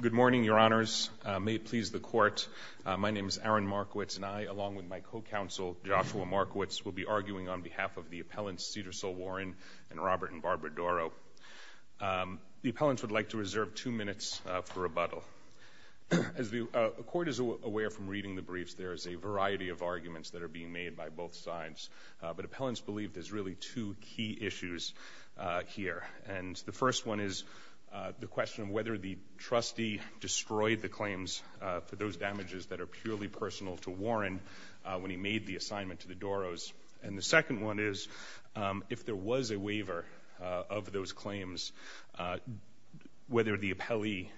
Good morning, Your Honors. May it please the Court, my name is Aaron Markowitz and I, along with my co-counsel Joshua Markowitz, will be arguing on behalf of the appellants Cedarsole Warren and Robert and Barbara Dorroh. The appellants would like to reserve two minutes for rebuttal. As the Court is aware from reading the briefs, there is a variety of arguments that are being made by both sides, but appellants believe there's really two key issues here, and the first one is the question of whether the trustee destroyed the claims for those damages that are purely personal to Warren when he made the assignment to the Dorrohs, and the second one is if there was a waiver of those claims, whether the appellee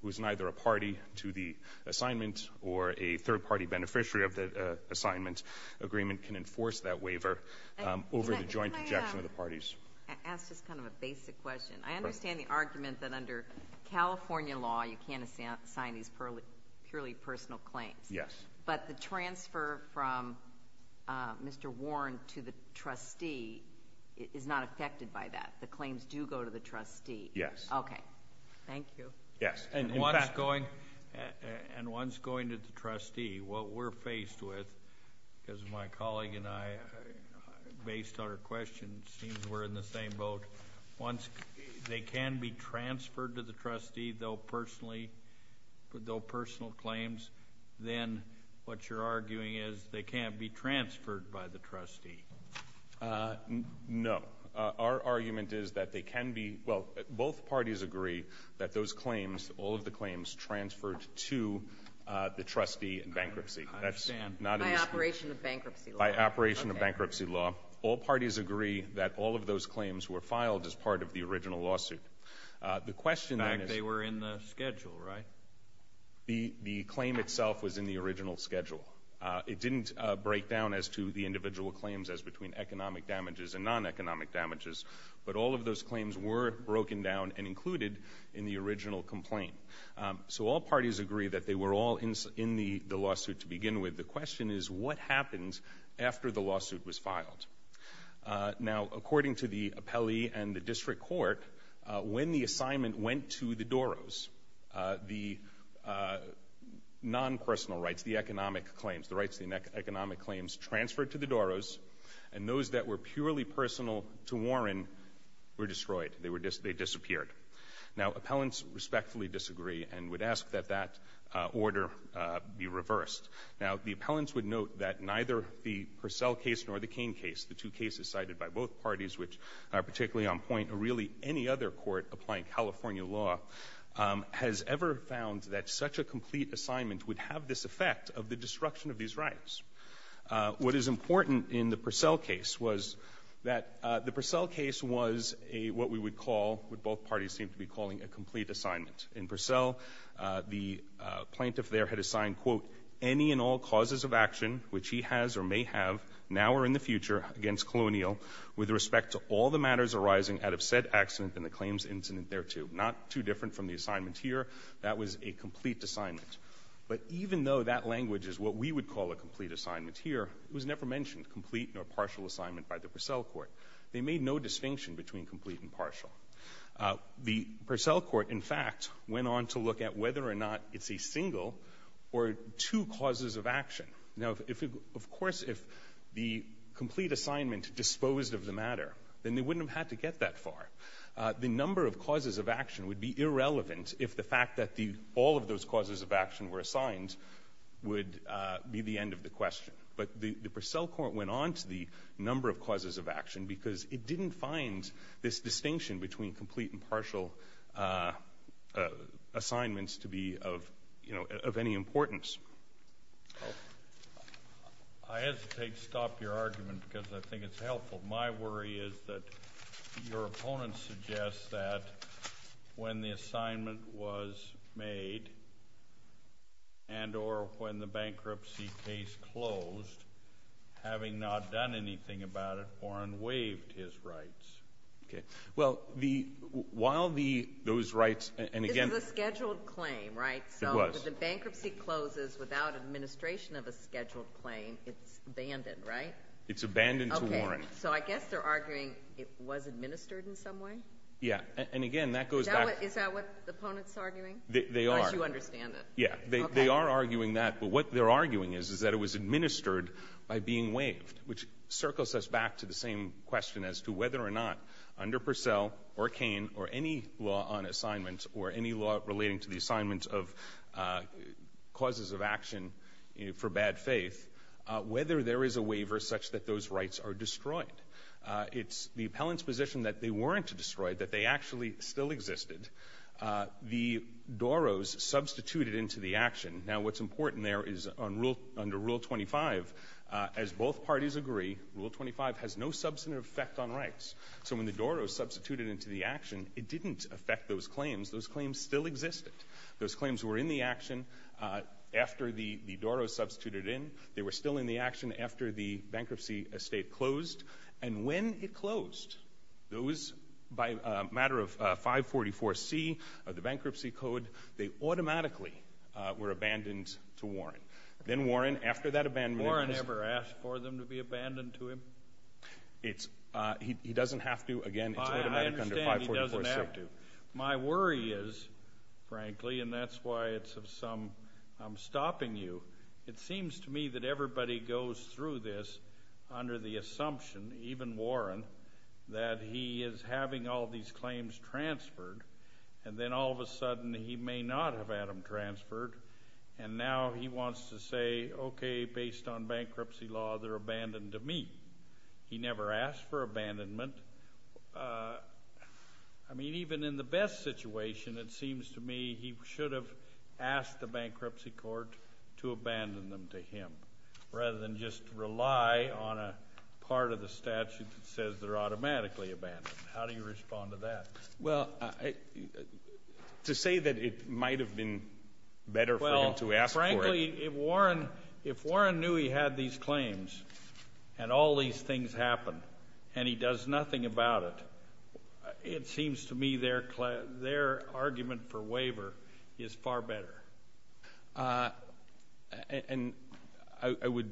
was neither a party to the assignment or a third-party beneficiary of the assignment agreement can force that waiver over the joint objection of the parties. Can I ask just kind of a basic question? I understand the argument that under California law you can't assign these purely personal claims. Yes. But the transfer from Mr. Warren to the trustee is not affected by that. The claims do go to the trustee. Yes. Okay. Thank you. Yes. And once going to the trustee, what we're faced with, because my colleague and I, based on our questions, seems we're in the same boat, once they can be transferred to the trustee, though personally, though personal claims, then what you're arguing is they can't be transferred by the trustee. No. Our argument is that they can be, well, both parties agree that those claims, all of the claims, transferred to the trustee in bankruptcy. I understand. That's not an issue. By operation of bankruptcy law. By operation of bankruptcy law, all parties agree that all of those claims were filed as part of the original lawsuit. The question is… In fact, they were in the schedule, right? The claim itself was in the original schedule. It didn't break down as to the individual claims as between economic damages and non-economic damages, but all of those claims were broken down and included in the original complaint. So all parties agree that they were all in the lawsuit to begin with. The question is, what happens after the lawsuit was filed? Now, according to the appellee and the district court, when the assignment went to the Doros, the non-personal rights, the economic claims, the rights to the economic claims, transferred to the Doros, and those that were purely personal to Warren were destroyed. They disappeared. Now, appellants respectfully disagree and would ask that that order be reversed. Now, the appellants would note that neither the Purcell case nor the Cain case, the two cases cited by both parties which are particularly on point, or really any other court applying California law, has ever found that such a complete assignment would have this effect of the destruction of these rights. What is important in the Purcell case was that the Purcell case was what we would call, what both parties seem to be calling, a complete assignment. In Purcell, the plaintiff there had assigned, quote, any and all causes of action which he has or may have now or in the future against Colonial with respect to all the matters arising out of said accident and the claims incident thereto. Not too different from the assignment here. That a complete assignment. But even though that language is what we would call a complete assignment here, it was never mentioned, complete or partial assignment by the Purcell court. They made no distinction between complete and partial. The Purcell court, in fact, went on to look at whether or not it's a single or two causes of action. Now, of course, if the complete assignment disposed of the matter, then they wouldn't have had to get that far. The number of causes of action would be irrelevant if the fact that all of those causes of action were assigned would be the end of the question. But the Purcell court went on to the number of causes of action because it didn't find this distinction between complete and partial assignments to be of, you know, of any importance. I hesitate to stop your argument because I think it's helpful. My worry is that your opponent suggests that when the assignment was made and or when the bankruptcy case closed, having not done anything about it, Warren waived his rights. Okay. Well, the while the those rights and again the scheduled claim, right? So the bankruptcy closes without administration of a scheduled claim. It's abandoned, right? It's abandoned to Warren. So I guess they're arguing it was administered in some way. Yeah. And again, that goes back. Is that what the opponent's arguing? They are. You understand that? Yeah, they are arguing that. But what they're arguing is, is that it was administered by being waived, which circles us back to the same question as to whether or not under Purcell or Kane or any law on assignment or any law relating to the assignment of causes of action for bad faith, whether there is a waiver such that those rights are destroyed. It's the appellant's position that they weren't destroyed, that they actually still existed. The Doros substituted into the action. Now, what's important there is on rule under Rule 25, as both parties agree, Rule 25 has no substantive effect on rights. So when the Doros substituted into the action, it didn't affect those claims. Those claims still existed. Those claims were in the action after the Doros substituted in. They were still in the action after the bankruptcy estate closed. And when it closed, those, by a matter of 544C of the Bankruptcy Code, they automatically were abandoned to Warren. Then Warren, after that abandonment... Warren ever asked for them to be abandoned to him? He doesn't have to. Again, it's automatic under 544C. I understand he doesn't have to. My worry is, frankly, and that's why it's of some... I'm stopping you. It seems to me that everybody goes through this under the assumption, even Warren, that he is having all these claims transferred, and then all of a sudden he may not have had them transferred, and now he wants to say, okay, based on bankruptcy law, they're abandoned to me. He never asked for abandonment. I mean, even in the best situation, it seems to me he should have asked the bankruptcy court to abandon them to him, rather than just rely on a part of the statute that says they're automatically abandoned. How do you respond to that? Well, to say that it might have been better for him to ask for it. Well, frankly, if Warren knew he had these claims, and all these things happen, and he does nothing about it, it seems to me their argument for waiver is far better. I would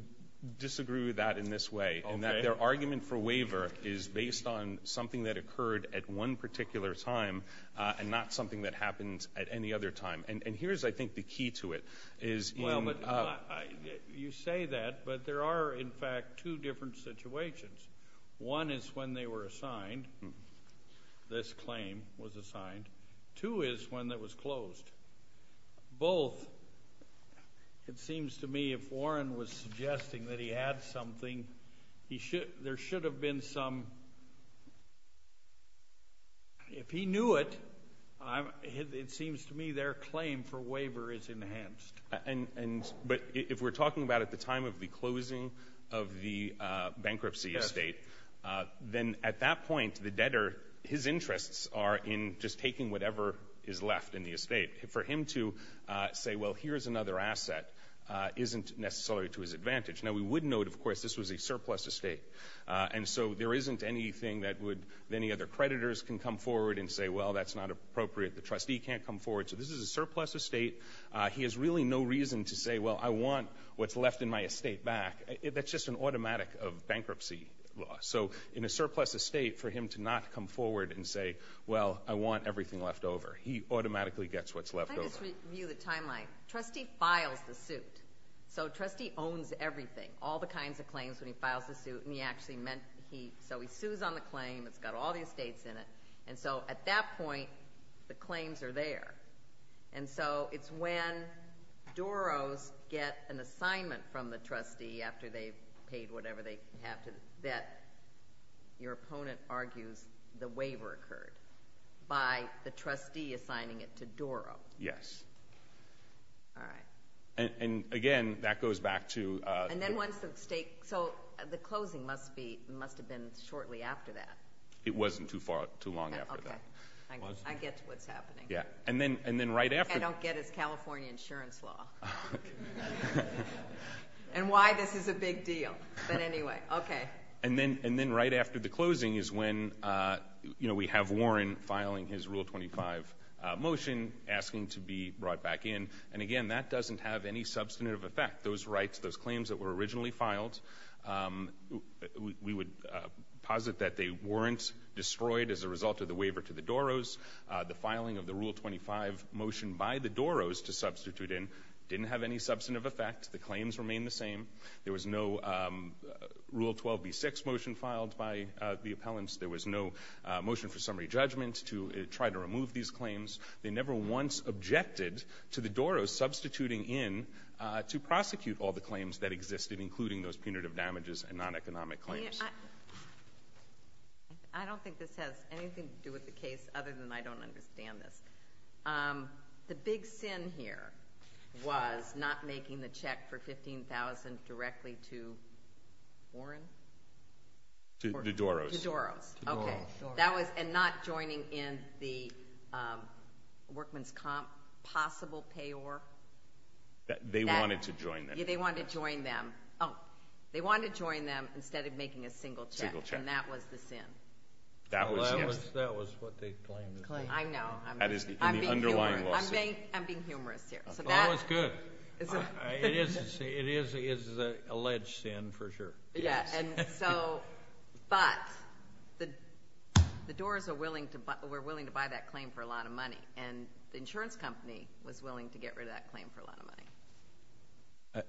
disagree with that in this way, in that their argument for waiver is based on something that occurred at one particular time, and not something that happens at any other time. And here's, I think, the key to it. Well, you say that, but there are, in fact, two different situations. One is when they were assigned, this claim was assigned. Two is when it was closed. Both, it seems to me if Warren was suggesting that he had for waiver is enhanced. But if we're talking about at the time of the closing of the bankruptcy estate, then at that point, the debtor, his interests are in just taking whatever is left in the estate. For him to say, well, here's another asset, isn't necessarily to his advantage. Now, we would note, of course, this was a surplus estate. And so there isn't anything that would, that any other creditors can come forward and say, well, that's not appropriate. The trustee can't come forward. So this is a surplus estate. He has really no reason to say, well, I want what's left in my estate back. That's just an automatic of bankruptcy law. So in a surplus estate, for him to not come forward and say, well, I want everything left over, he automatically gets what's left over. Let me just review the timeline. Trustee files the suit. So trustee owns everything, all the kinds of claims when he files the suit. And he actually meant he, so he sues on the claims are there. And so it's when Doros get an assignment from the trustee after they've paid whatever they have to bet, your opponent argues the waiver occurred by the trustee assigning it to Doro. Yes. All right. And again, that goes back to And then once the state, so the closing must be, must have been shortly after that. It wasn't too far, too long after that. I get what's happening. Yeah. And then, and then right after I don't get it's California insurance law and why this is a big deal. But anyway. Okay. And then, and then right after the closing is when, you know, we have Warren filing his Rule 25 motion asking to be brought back in. And again, that doesn't have any substantive effect. Those rights, those claims that were originally filed, we would posit that they weren't destroyed as a result of the waiver to the Doros. The filing of the Rule 25 motion by the Doros to substitute in didn't have any substantive effect. The claims remained the same. There was no Rule 12b6 motion filed by the appellants. There was no motion for summary judgment to try to remove these claims. They never once objected to the Doros substituting in to prosecute all the claims that existed, including those punitive damages and non-economic claims. I don't think this has anything to do with the case other than I don't understand this. The big sin here was not making the check for $15,000 directly to Warren? To Doros. To Doros. Okay. That was, and not joining in the workman's comp possible payor? They wanted to join them. They wanted to join them instead of making a single check, and that was the sin. That was what they claimed. I know. I'm being humorous here. That was good. It is an alleged sin for sure. Yes. But the Doros were willing to buy that claim for a lot of money, and the insurance company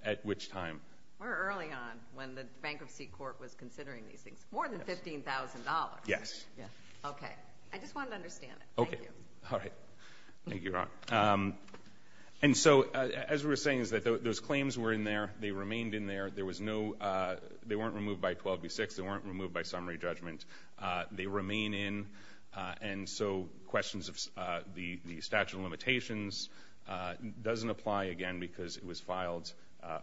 At which time? Early on, when the bankruptcy court was considering these things. More than $15,000. Yes. Okay. I just wanted to understand it. Thank you. Okay. All right. Thank you, Your Honor. And so, as we were saying, those claims were in there. They remained in there. They weren't removed by 12B6. They weren't removed by summary judgment. They remain in, and so questions of the statute of limitations doesn't apply again because it was filed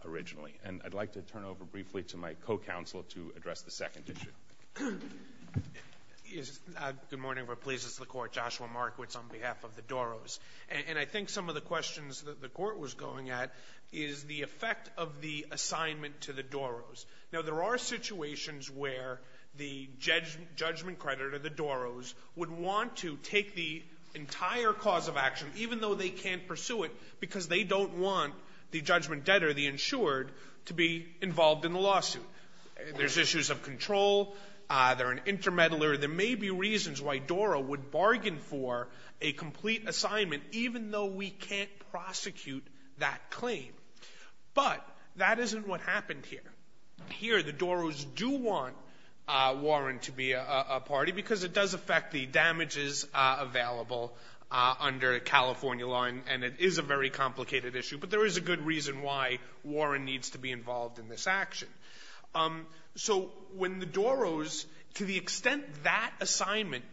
originally. And I'd like to turn over briefly to my co-counsel to address the second issue. Good morning. We're pleased it's the Court. Joshua Markowitz on behalf of the Doros. And I think some of the questions that the Court was going at is the effect of the assignment to the Doros. Now, there are situations where the judgment creditor, the Doros, would want to take the entire cause of action, even though they can't pursue it because they don't want the judgment debtor, the insured, to be involved in the lawsuit. There's issues of control. They're an intermeddler. There may be reasons why Doro would bargain for a complete assignment, even though we can't prosecute that claim. But that isn't what happened here. Here, the Doros do want Warren to be a party because it does affect the damages available under California law, and it is a very complicated issue. But there is a good reason why Warren needs to be involved in this action. So when the Doros, to the extent that assignment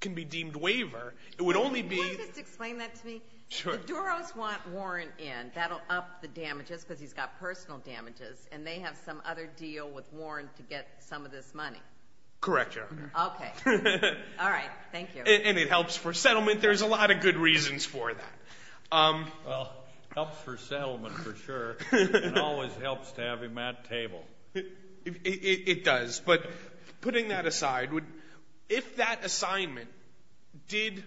can be deemed waiver, it would only be — Can you just explain that to me? Sure. The Doros want Warren in. That will up the damages because he's got personal damages, and they have some other deal with Warren to get some of this money. Correct, Your Honor. Okay. All right. Thank you. And it helps for settlement. There's a lot of good reasons for that. Well, it helps for settlement for sure. It always helps to have him at the table. It does. But putting that aside, if that assignment did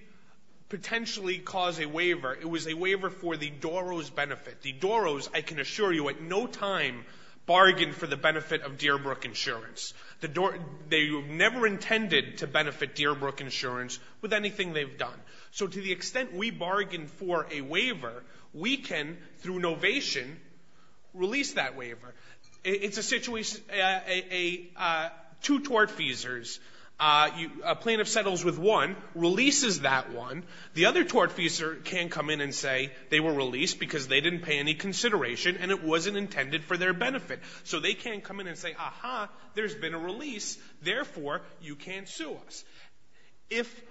potentially cause a waiver, it was a waiver for the Doros' benefit. The Doros, I can assure you, at no time bargained for the benefit of Dearbrook Insurance. They never intended to benefit Dearbrook Insurance with anything they've done. So to the extent we bargain for a waiver, we can, through novation, release that waiver. It's a situation — two tortfeasors, a plaintiff settles with one, releases that one. The other tortfeasor can come in and say they were released because they didn't pay any consideration and it wasn't intended for their benefit. So they can come in and say, ah-ha, there's been a release. Therefore, you can't sue us. If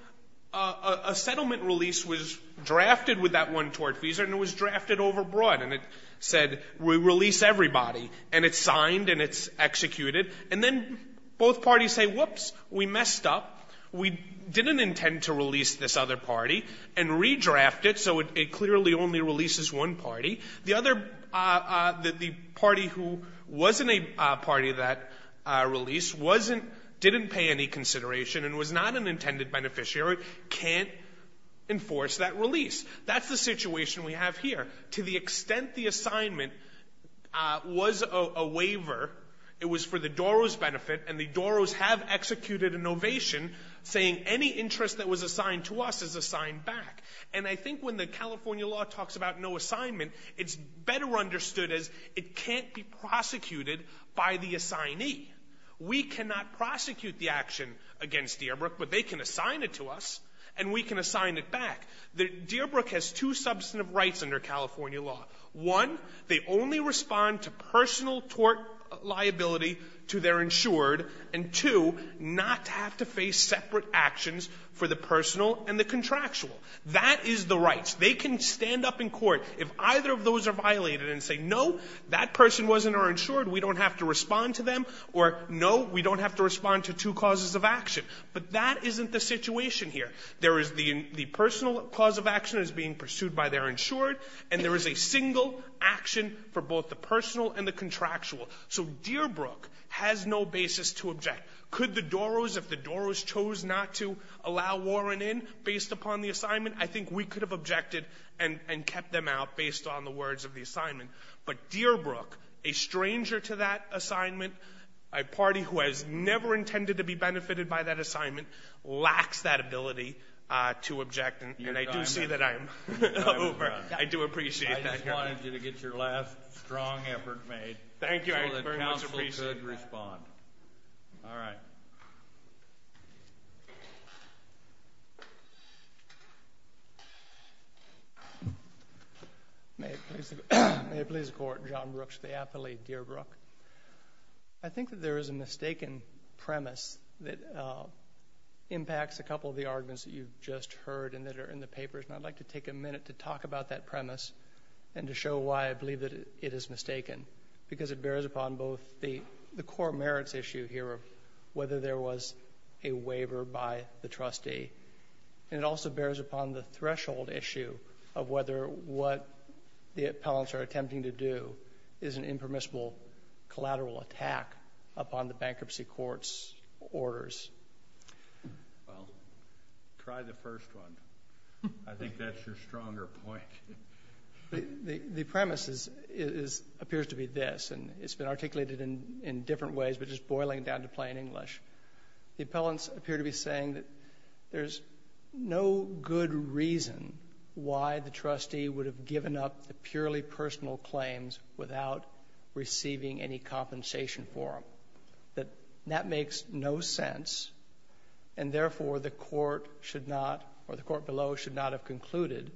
a settlement release was drafted with that one tortfeasor and it was drafted overbroad and it said, we release everybody, and it's signed and it's executed, and then both parties say, whoops, we messed up, we didn't intend to release this other party, and redraft it so it clearly only releases one party, the party who wasn't a party to that release didn't pay any consideration and was not an intended beneficiary can't enforce that release. That's the situation we have here. To the extent the assignment was a waiver, it was for the Doros benefit, and the Doros have executed a novation saying any interest that was assigned to us is assigned back. And I think when the California law talks about no assignment, it's better understood as it can't be prosecuted by the assignee. We cannot prosecute the action against Dearbrook, but they can assign it to us and we can assign it back. Dearbrook has two substantive rights under California law. One, they only respond to personal tort liability to their insured, and two, not to have to face separate actions for the personal and the contractual. That is the rights. They can stand up in court if either of those are violated and say, no, that person wasn't our insured, we don't have to respond to them, or no, we don't have to respond to two causes of action. But that isn't the situation here. There is the personal cause of action is being pursued by their insured, and there is a single action for both the personal and the contractual. So Dearbrook has no basis to object. Could the Doros, if the Doros chose not to allow Warren in based upon the assignment, I think we could have objected and kept them out based on the words of the assignment. But Dearbrook, a stranger to that assignment, a party who has never intended to be benefited by that assignment, lacks that ability to object. And I do see that I'm over. I do appreciate that. I just wanted you to get your last strong effort made. Thank you. I very much appreciate that. You should respond. All right. May it please the Court. John Brooks, the athlete, Dearbrook. I think that there is a mistaken premise that impacts a couple of the arguments that you've just heard and that are in the papers. And I'd like to take a minute to talk about that premise and to show why I believe that it is mistaken. Because it bears upon both the core merits issue here of whether there was a waiver by the trustee, and it also bears upon the threshold issue of whether what the appellants are attempting to do is an impermissible collateral attack upon the bankruptcy court's orders. Well, try the first one. I think that's your stronger point. The premise appears to be this. And it's been articulated in different ways, but just boiling down to plain English. The appellants appear to be saying that there's no good reason why the trustee would have given up the purely personal claims without receiving any compensation for them, that that makes no sense, and therefore the court should not, or the court below, should not have concluded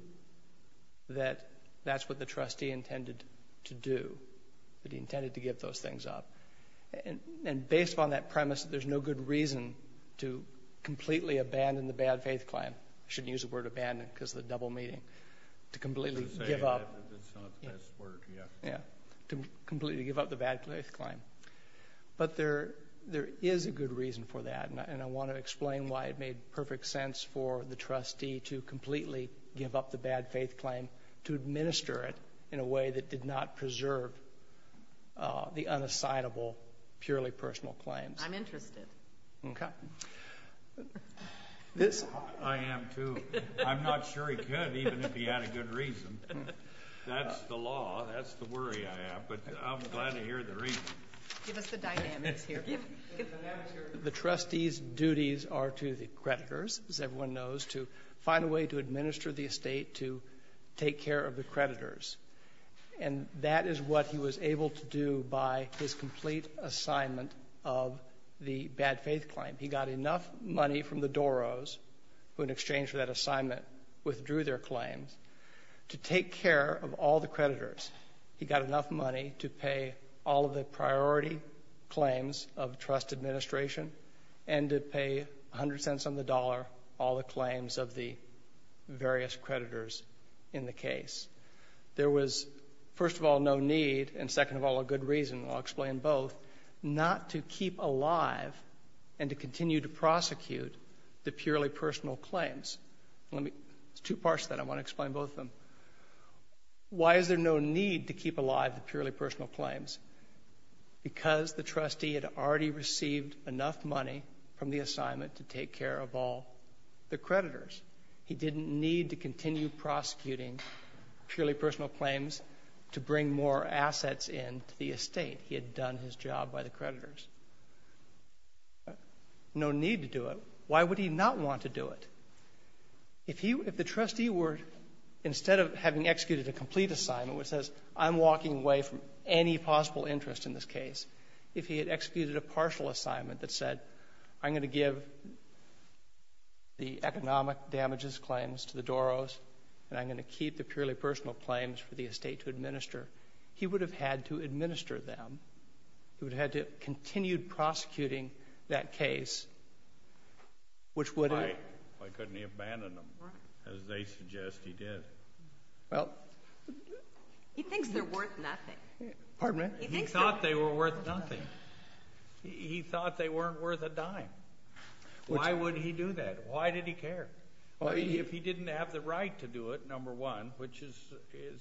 that that's what the trustee intended to do. That he intended to give those things up. And based upon that premise, there's no good reason to completely abandon the bad faith claim. I shouldn't use the word abandon because of the double meaning. To completely give up. That's not the best word, yeah. Yeah. To completely give up the bad faith claim. But there is a good reason for that. And I want to explain why it made perfect sense for the trustee to completely give up the bad faith claim, to administer it in a way that did not preserve the unassignable purely personal claims. I'm interested. Okay. I am, too. I'm not sure he could, even if he had a good reason. That's the law. That's the worry I have. But I'm glad to hear the reason. Give us the dynamics here. The trustee's duties are to the creditors, as everyone knows, to find a way to administer the estate to take care of the creditors. And that is what he was able to do by his complete assignment of the bad faith claim. He got enough money from the Doros, who in exchange for that assignment withdrew their claims, to take care of all the creditors. He got enough money to pay all of the priority claims of trust administration and to pay 100 cents on the dollar all the claims of the various creditors in the case. There was, first of all, no need, and second of all, a good reason. I'll explain both. Not to keep alive and to continue to prosecute the purely personal claims. Let me – there's two parts to that. I want to explain both of them. Why is there no need to keep alive the purely personal claims? Because the trustee had already received enough money from the assignment to take care of all the creditors. He didn't need to continue prosecuting purely personal claims to bring more assets in to the estate. He had done his job by the creditors. No need to do it. Why would he not want to do it? If he – if the trustee were, instead of having executed a complete assignment which says, I'm walking away from any possible interest in this case, if he had executed a partial assignment that said, I'm going to give the economic damages claims to the Doros, and I'm going to keep the purely personal claims for the estate to administer, he would have had to administer them. He would have had to have continued prosecuting that case, which would have – Why couldn't he abandon them as they suggest he did? Well – He thinks they're worth nothing. He thought they were worth nothing. He thought they weren't worth a dime. Why would he do that? Why did he care? If he didn't have the right to do it, number one, which is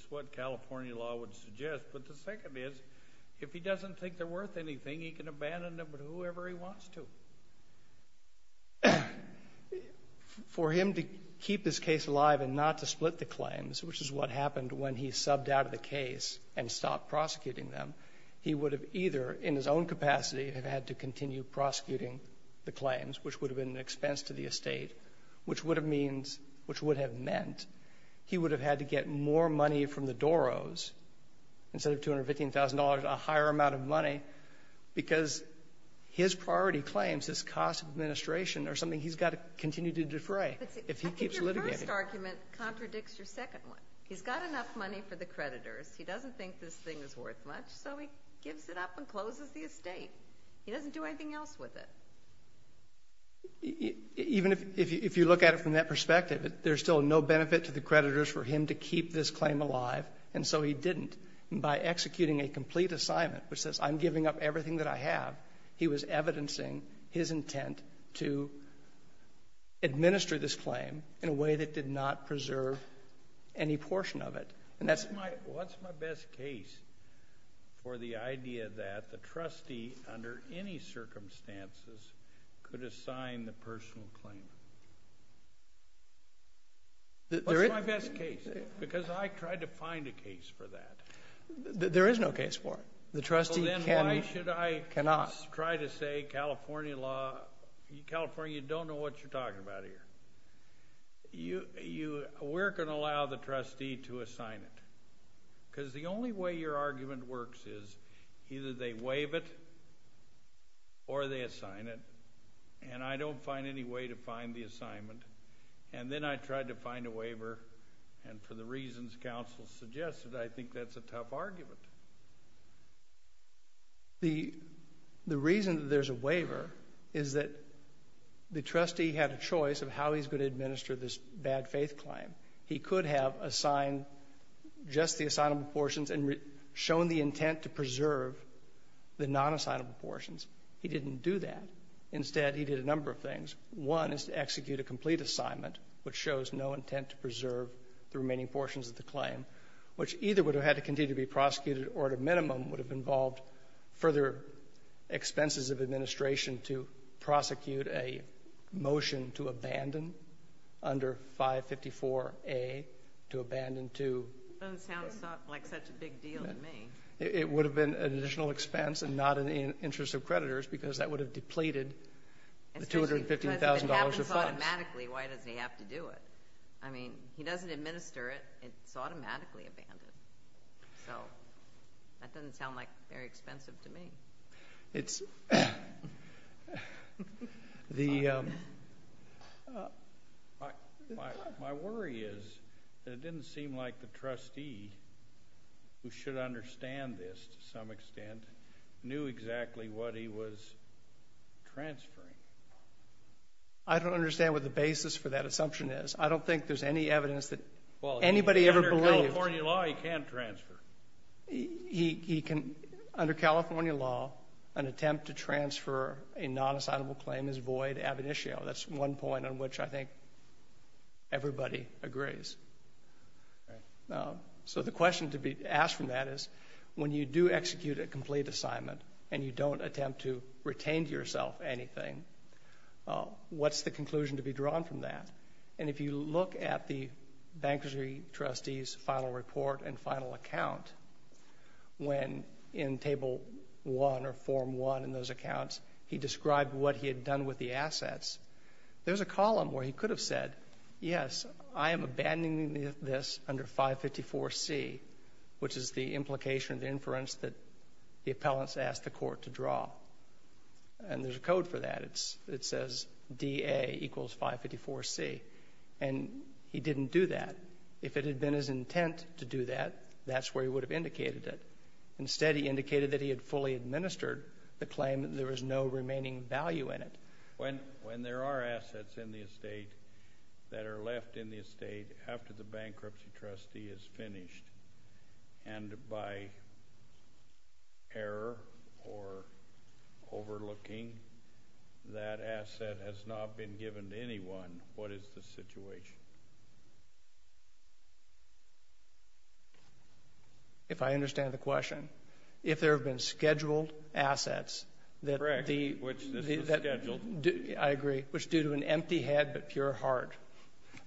what California law would suggest, but the second is, if he doesn't think they're worth anything, he can abandon them to whoever he wants to. For him to keep this case alive and not to split the claims, which is what happened when he subbed out of the case and stopped prosecuting them, he would have either, in his own capacity, had had to continue prosecuting the claims, which would have been an expense to the estate, which would have meant he would have had to get more money from the Doros, instead of $215,000, a higher amount of money, because his priority claims, his cost of administration, are something he's got to continue to defray if he keeps litigating. I think your first argument contradicts your second one. He's got enough money for the creditors. He doesn't think this thing is worth much, so he gives it up and closes the estate. He doesn't do anything else with it. Even if you look at it from that perspective, there's still no benefit to the creditors for him to keep this claim alive, and so he didn't. By executing a complete assignment, which says, I'm giving up everything that I have, he was evidencing his intent to administer this claim in a way that did not preserve any portion of it. What's my best case for the idea that the trustee, under any circumstances, could assign the personal claim? What's my best case? Because I tried to find a case for that. There is no case for it. The trustee cannot. Then why should I try to say California law, California, you don't know what you're talking about here. We're going to allow the trustee to assign it, because the only way your argument works is either they waive it or they assign it, and I don't find any way to find the assignment, and then I tried to find a waiver, and for the reasons counsel suggested, I think that's a tough argument. The reason that there's a waiver is that the trustee had a choice of how he's going to administer this bad faith claim. He could have assigned just the assignable portions and shown the intent to preserve the non-assignable portions. He didn't do that. Instead, he did a number of things. One is to execute a complete assignment, which shows no intent to preserve the remaining portions of the claim, which either would have had to continue to be prosecuted or, at a minimum, would have involved further expenses of administration to prosecute a motion to abandon under 554A, to abandon to... It sounds like such a big deal to me. It would have been an additional expense and not in the interest of creditors, because that would have depleted the $215,000 of funds. If it happens automatically, why doesn't he have to do it? I mean, he doesn't administer it. It's automatically abandoned. So that doesn't sound, like, very expensive to me. It's... The, um... My worry is that it didn't seem like the trustee, who should understand this to some extent, knew exactly what he was transferring. I don't understand what the basis for that assumption is. I don't think there's any evidence that anybody ever believed... Well, under California law, he can transfer. He can... Under California law, an attempt to transfer a non-assignable claim is void ab initio. That's one point on which I think everybody agrees. Right. So the question to be asked from that is, when you do execute a complete assignment and you don't attempt to retain to yourself anything, what's the conclusion to be drawn from that? And if you look at the bankruptcy trustee's final report and final account, when in Table 1 or Form 1 in those accounts, he described what he had done with the assets, there's a column where he could have said, yes, I am abandoning this under 554C, which is the implication of the inference that the appellants asked the court to draw. And there's a code for that. It says DA equals 554C. And he didn't do that. If it had been his intent to do that, that's where he would have indicated it. Instead, he indicated that he had fully administered the claim and there was no remaining value in it. When there are assets in the estate that are left in the estate after the bankruptcy trustee is finished and by error or overlooking, that asset has not been given to anyone, what is the situation? If I understand the question, if there have been scheduled assets that the... Correct, which this was scheduled. I agree, which due to an empty head but pure heart,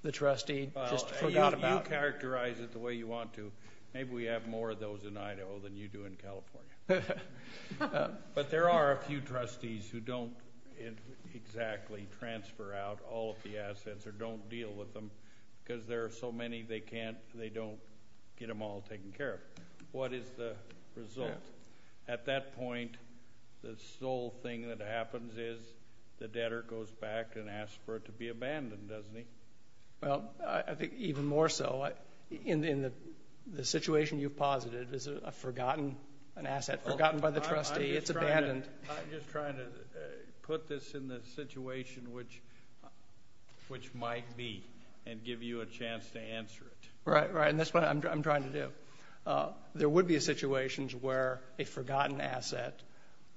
the trustee just forgot about them. If you characterize it the way you want to, maybe we have more of those in Idaho than you do in California. But there are a few trustees who don't exactly transfer out all of the assets or don't deal with them because there are so many they can't, they don't get them all taken care of. What is the result? At that point, the sole thing that happens is the debtor goes back and asks for it to be abandoned, doesn't he? Well, I think even more so. In the situation you've posited, is a forgotten, an asset forgotten by the trustee, it's abandoned. I'm just trying to put this in the situation which might be and give you a chance to answer it. Right, right, and that's what I'm trying to do. There would be situations where a forgotten asset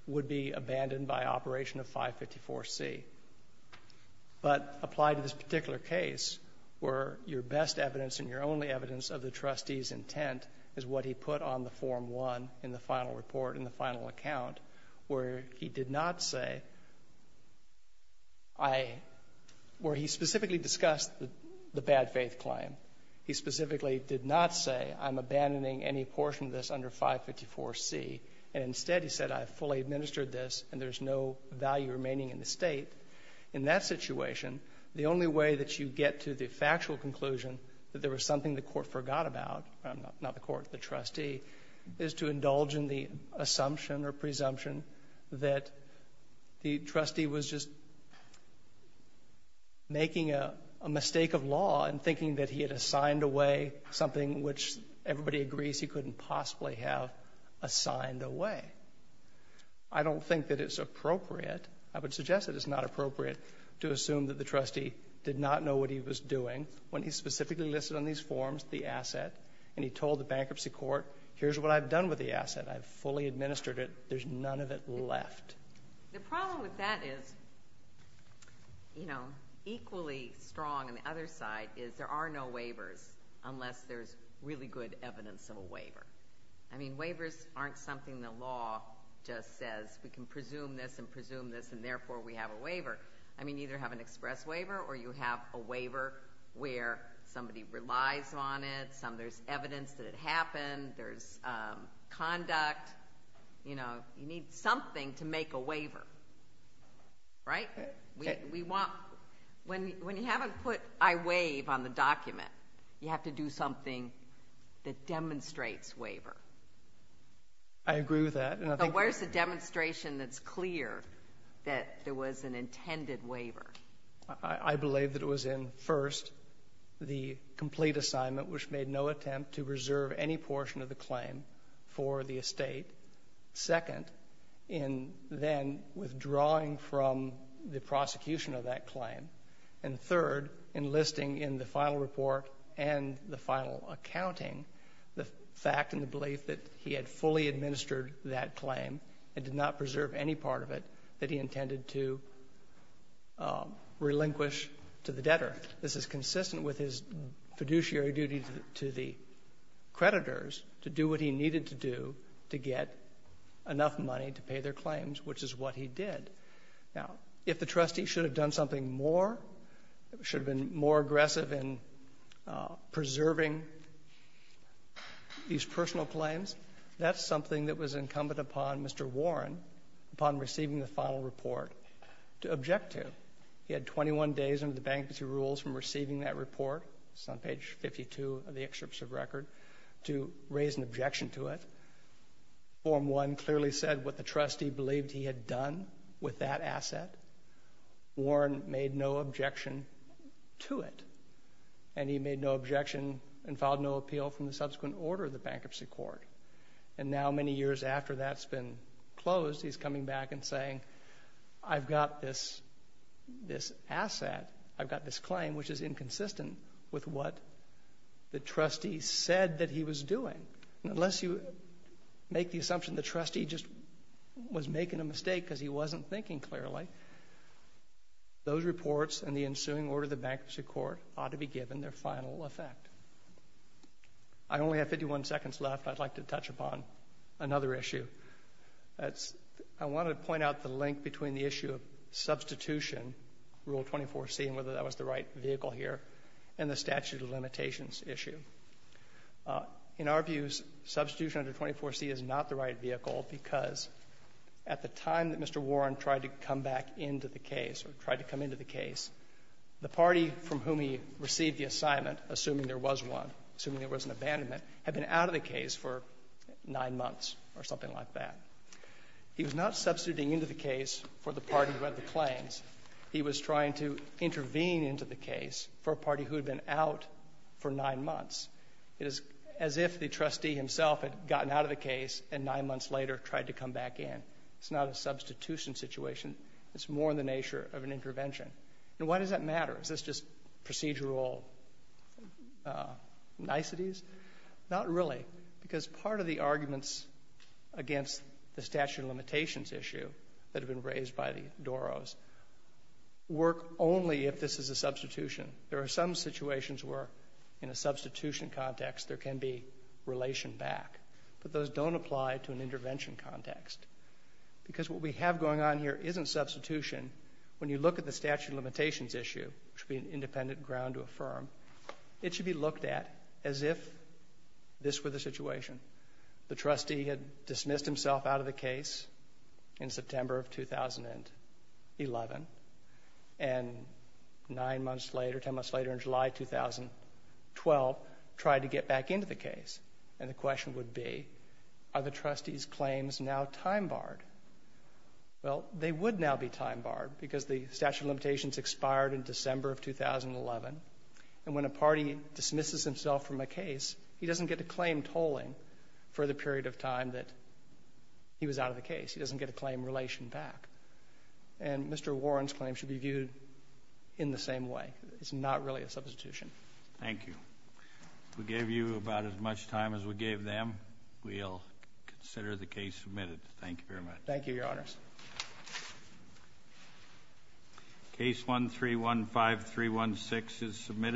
would be abandoned by Operation 554C, but apply to this particular case where your best evidence and your only evidence of the trustee's intent is what he put on the Form 1 in the final report, in the final account, where he did not say I, where he specifically discussed the bad faith claim. He specifically did not say I'm abandoning any portion of this under 554C, and instead he said I've fully administered this and there's no value remaining in the state. In that situation, the only way that you get to the factual conclusion that there was something the court forgot about, not the court, the trustee, is to indulge in the assumption or presumption that the trustee was just making a mistake of law and thinking that he had assigned away something which everybody agrees he couldn't possibly have assigned away. I don't think that it's appropriate, I would suggest that it's not appropriate, to assume that the trustee did not know what he was doing when he specifically listed on these forms the asset and he told the bankruptcy court here's what I've done with the asset, I've fully administered it, there's none of it left. The problem with that is, you know, equally strong on the other side is there are no waivers unless there's really good evidence of a waiver. I mean, waivers aren't something the law just says we can presume this and presume this and therefore we have a waiver. I mean, you either have an express waiver or you have a waiver where somebody relies on it, there's evidence that it happened, there's conduct, you know, you need something to make a waiver, right? When you haven't put I waive on the document, you have to do something that demonstrates waiver. I agree with that. So where's the demonstration that's clear that there was an intended waiver? I believe that it was in, first, the complete assignment which made no attempt to reserve any portion of the claim for the estate, second, in then withdrawing from the prosecution of that claim, and third, in listing in the final report and the final accounting the fact and the belief that he had fully administered that claim and did not preserve any part of it that he intended to relinquish to the debtor. This is consistent with his fiduciary duty to the creditors to do what he needed to do to get enough money to pay their claims, which is what he did. Now, if the trustee should have done something more, should have been more aggressive in preserving these personal claims, that's something that was incumbent upon Mr. Warren, upon receiving the final report, to object to. He had 21 days under the bankruptcy rules from receiving that report. It's on page 52 of the excerpt of record, to raise an objection to it. Form 1 clearly said what the trustee believed he had done with that asset. Warren made no objection to it. And he made no objection and filed no appeal from the subsequent order of the Bankruptcy Court. And now, many years after that's been closed, he's coming back and saying, I've got this asset, I've got this claim, which is inconsistent with what the trustee said that he was doing. Unless you make the assumption the trustee just was making a mistake because he wasn't thinking clearly, those reports and the ensuing order of the Bankruptcy Court ought to be given their final effect. I only have 51 seconds left. I'd like to touch upon another issue. I want to point out the link between the issue of substitution, Rule 24C, and whether that was the right vehicle here, and the statute of limitations issue. In our views, substitution under 24C is not the right vehicle because at the time that Mr. Warren tried to come back into the case, or tried to come into the case, the party from whom he received the assignment, assuming there was one, assuming there was an abandonment, had been out of the case for nine months or something like that. He was not substituting into the case for the party who had the claims. He was trying to intervene into the case for a party who had been out for nine months. It is as if the trustee himself had gotten out of the case and nine months later tried to come back in. It's not a substitution situation. It's more in the nature of an intervention. And why does that matter? Is this just procedural niceties? Not really, because part of the arguments against the statute of limitations issue that have been raised by the Doros work only if this is a substitution. There are some situations where in a substitution context there can be relation back, but those don't apply to an intervention context, because what we have going on here isn't substitution. When you look at the statute of limitations issue, which would be an independent ground to affirm, it should be looked at as if this were the situation. The trustee had dismissed himself out of the case in September of 2011, and nine months later, ten months later, in July 2012, tried to get back into the case. And the question would be, are the trustee's claims now time barred? Well, they would now be time barred, because the statute of limitations expired in December of 2011, and when a party dismisses himself from a case, he doesn't get a claim tolling for the period of time that he was out of the case. He doesn't get a claim relation back. And Mr. Warren's claim should be viewed in the same way. It's not really a substitution. Thank you. We gave you about as much time as we gave them. We'll consider the case submitted. Thank you very much. Case 1315316 is submitted.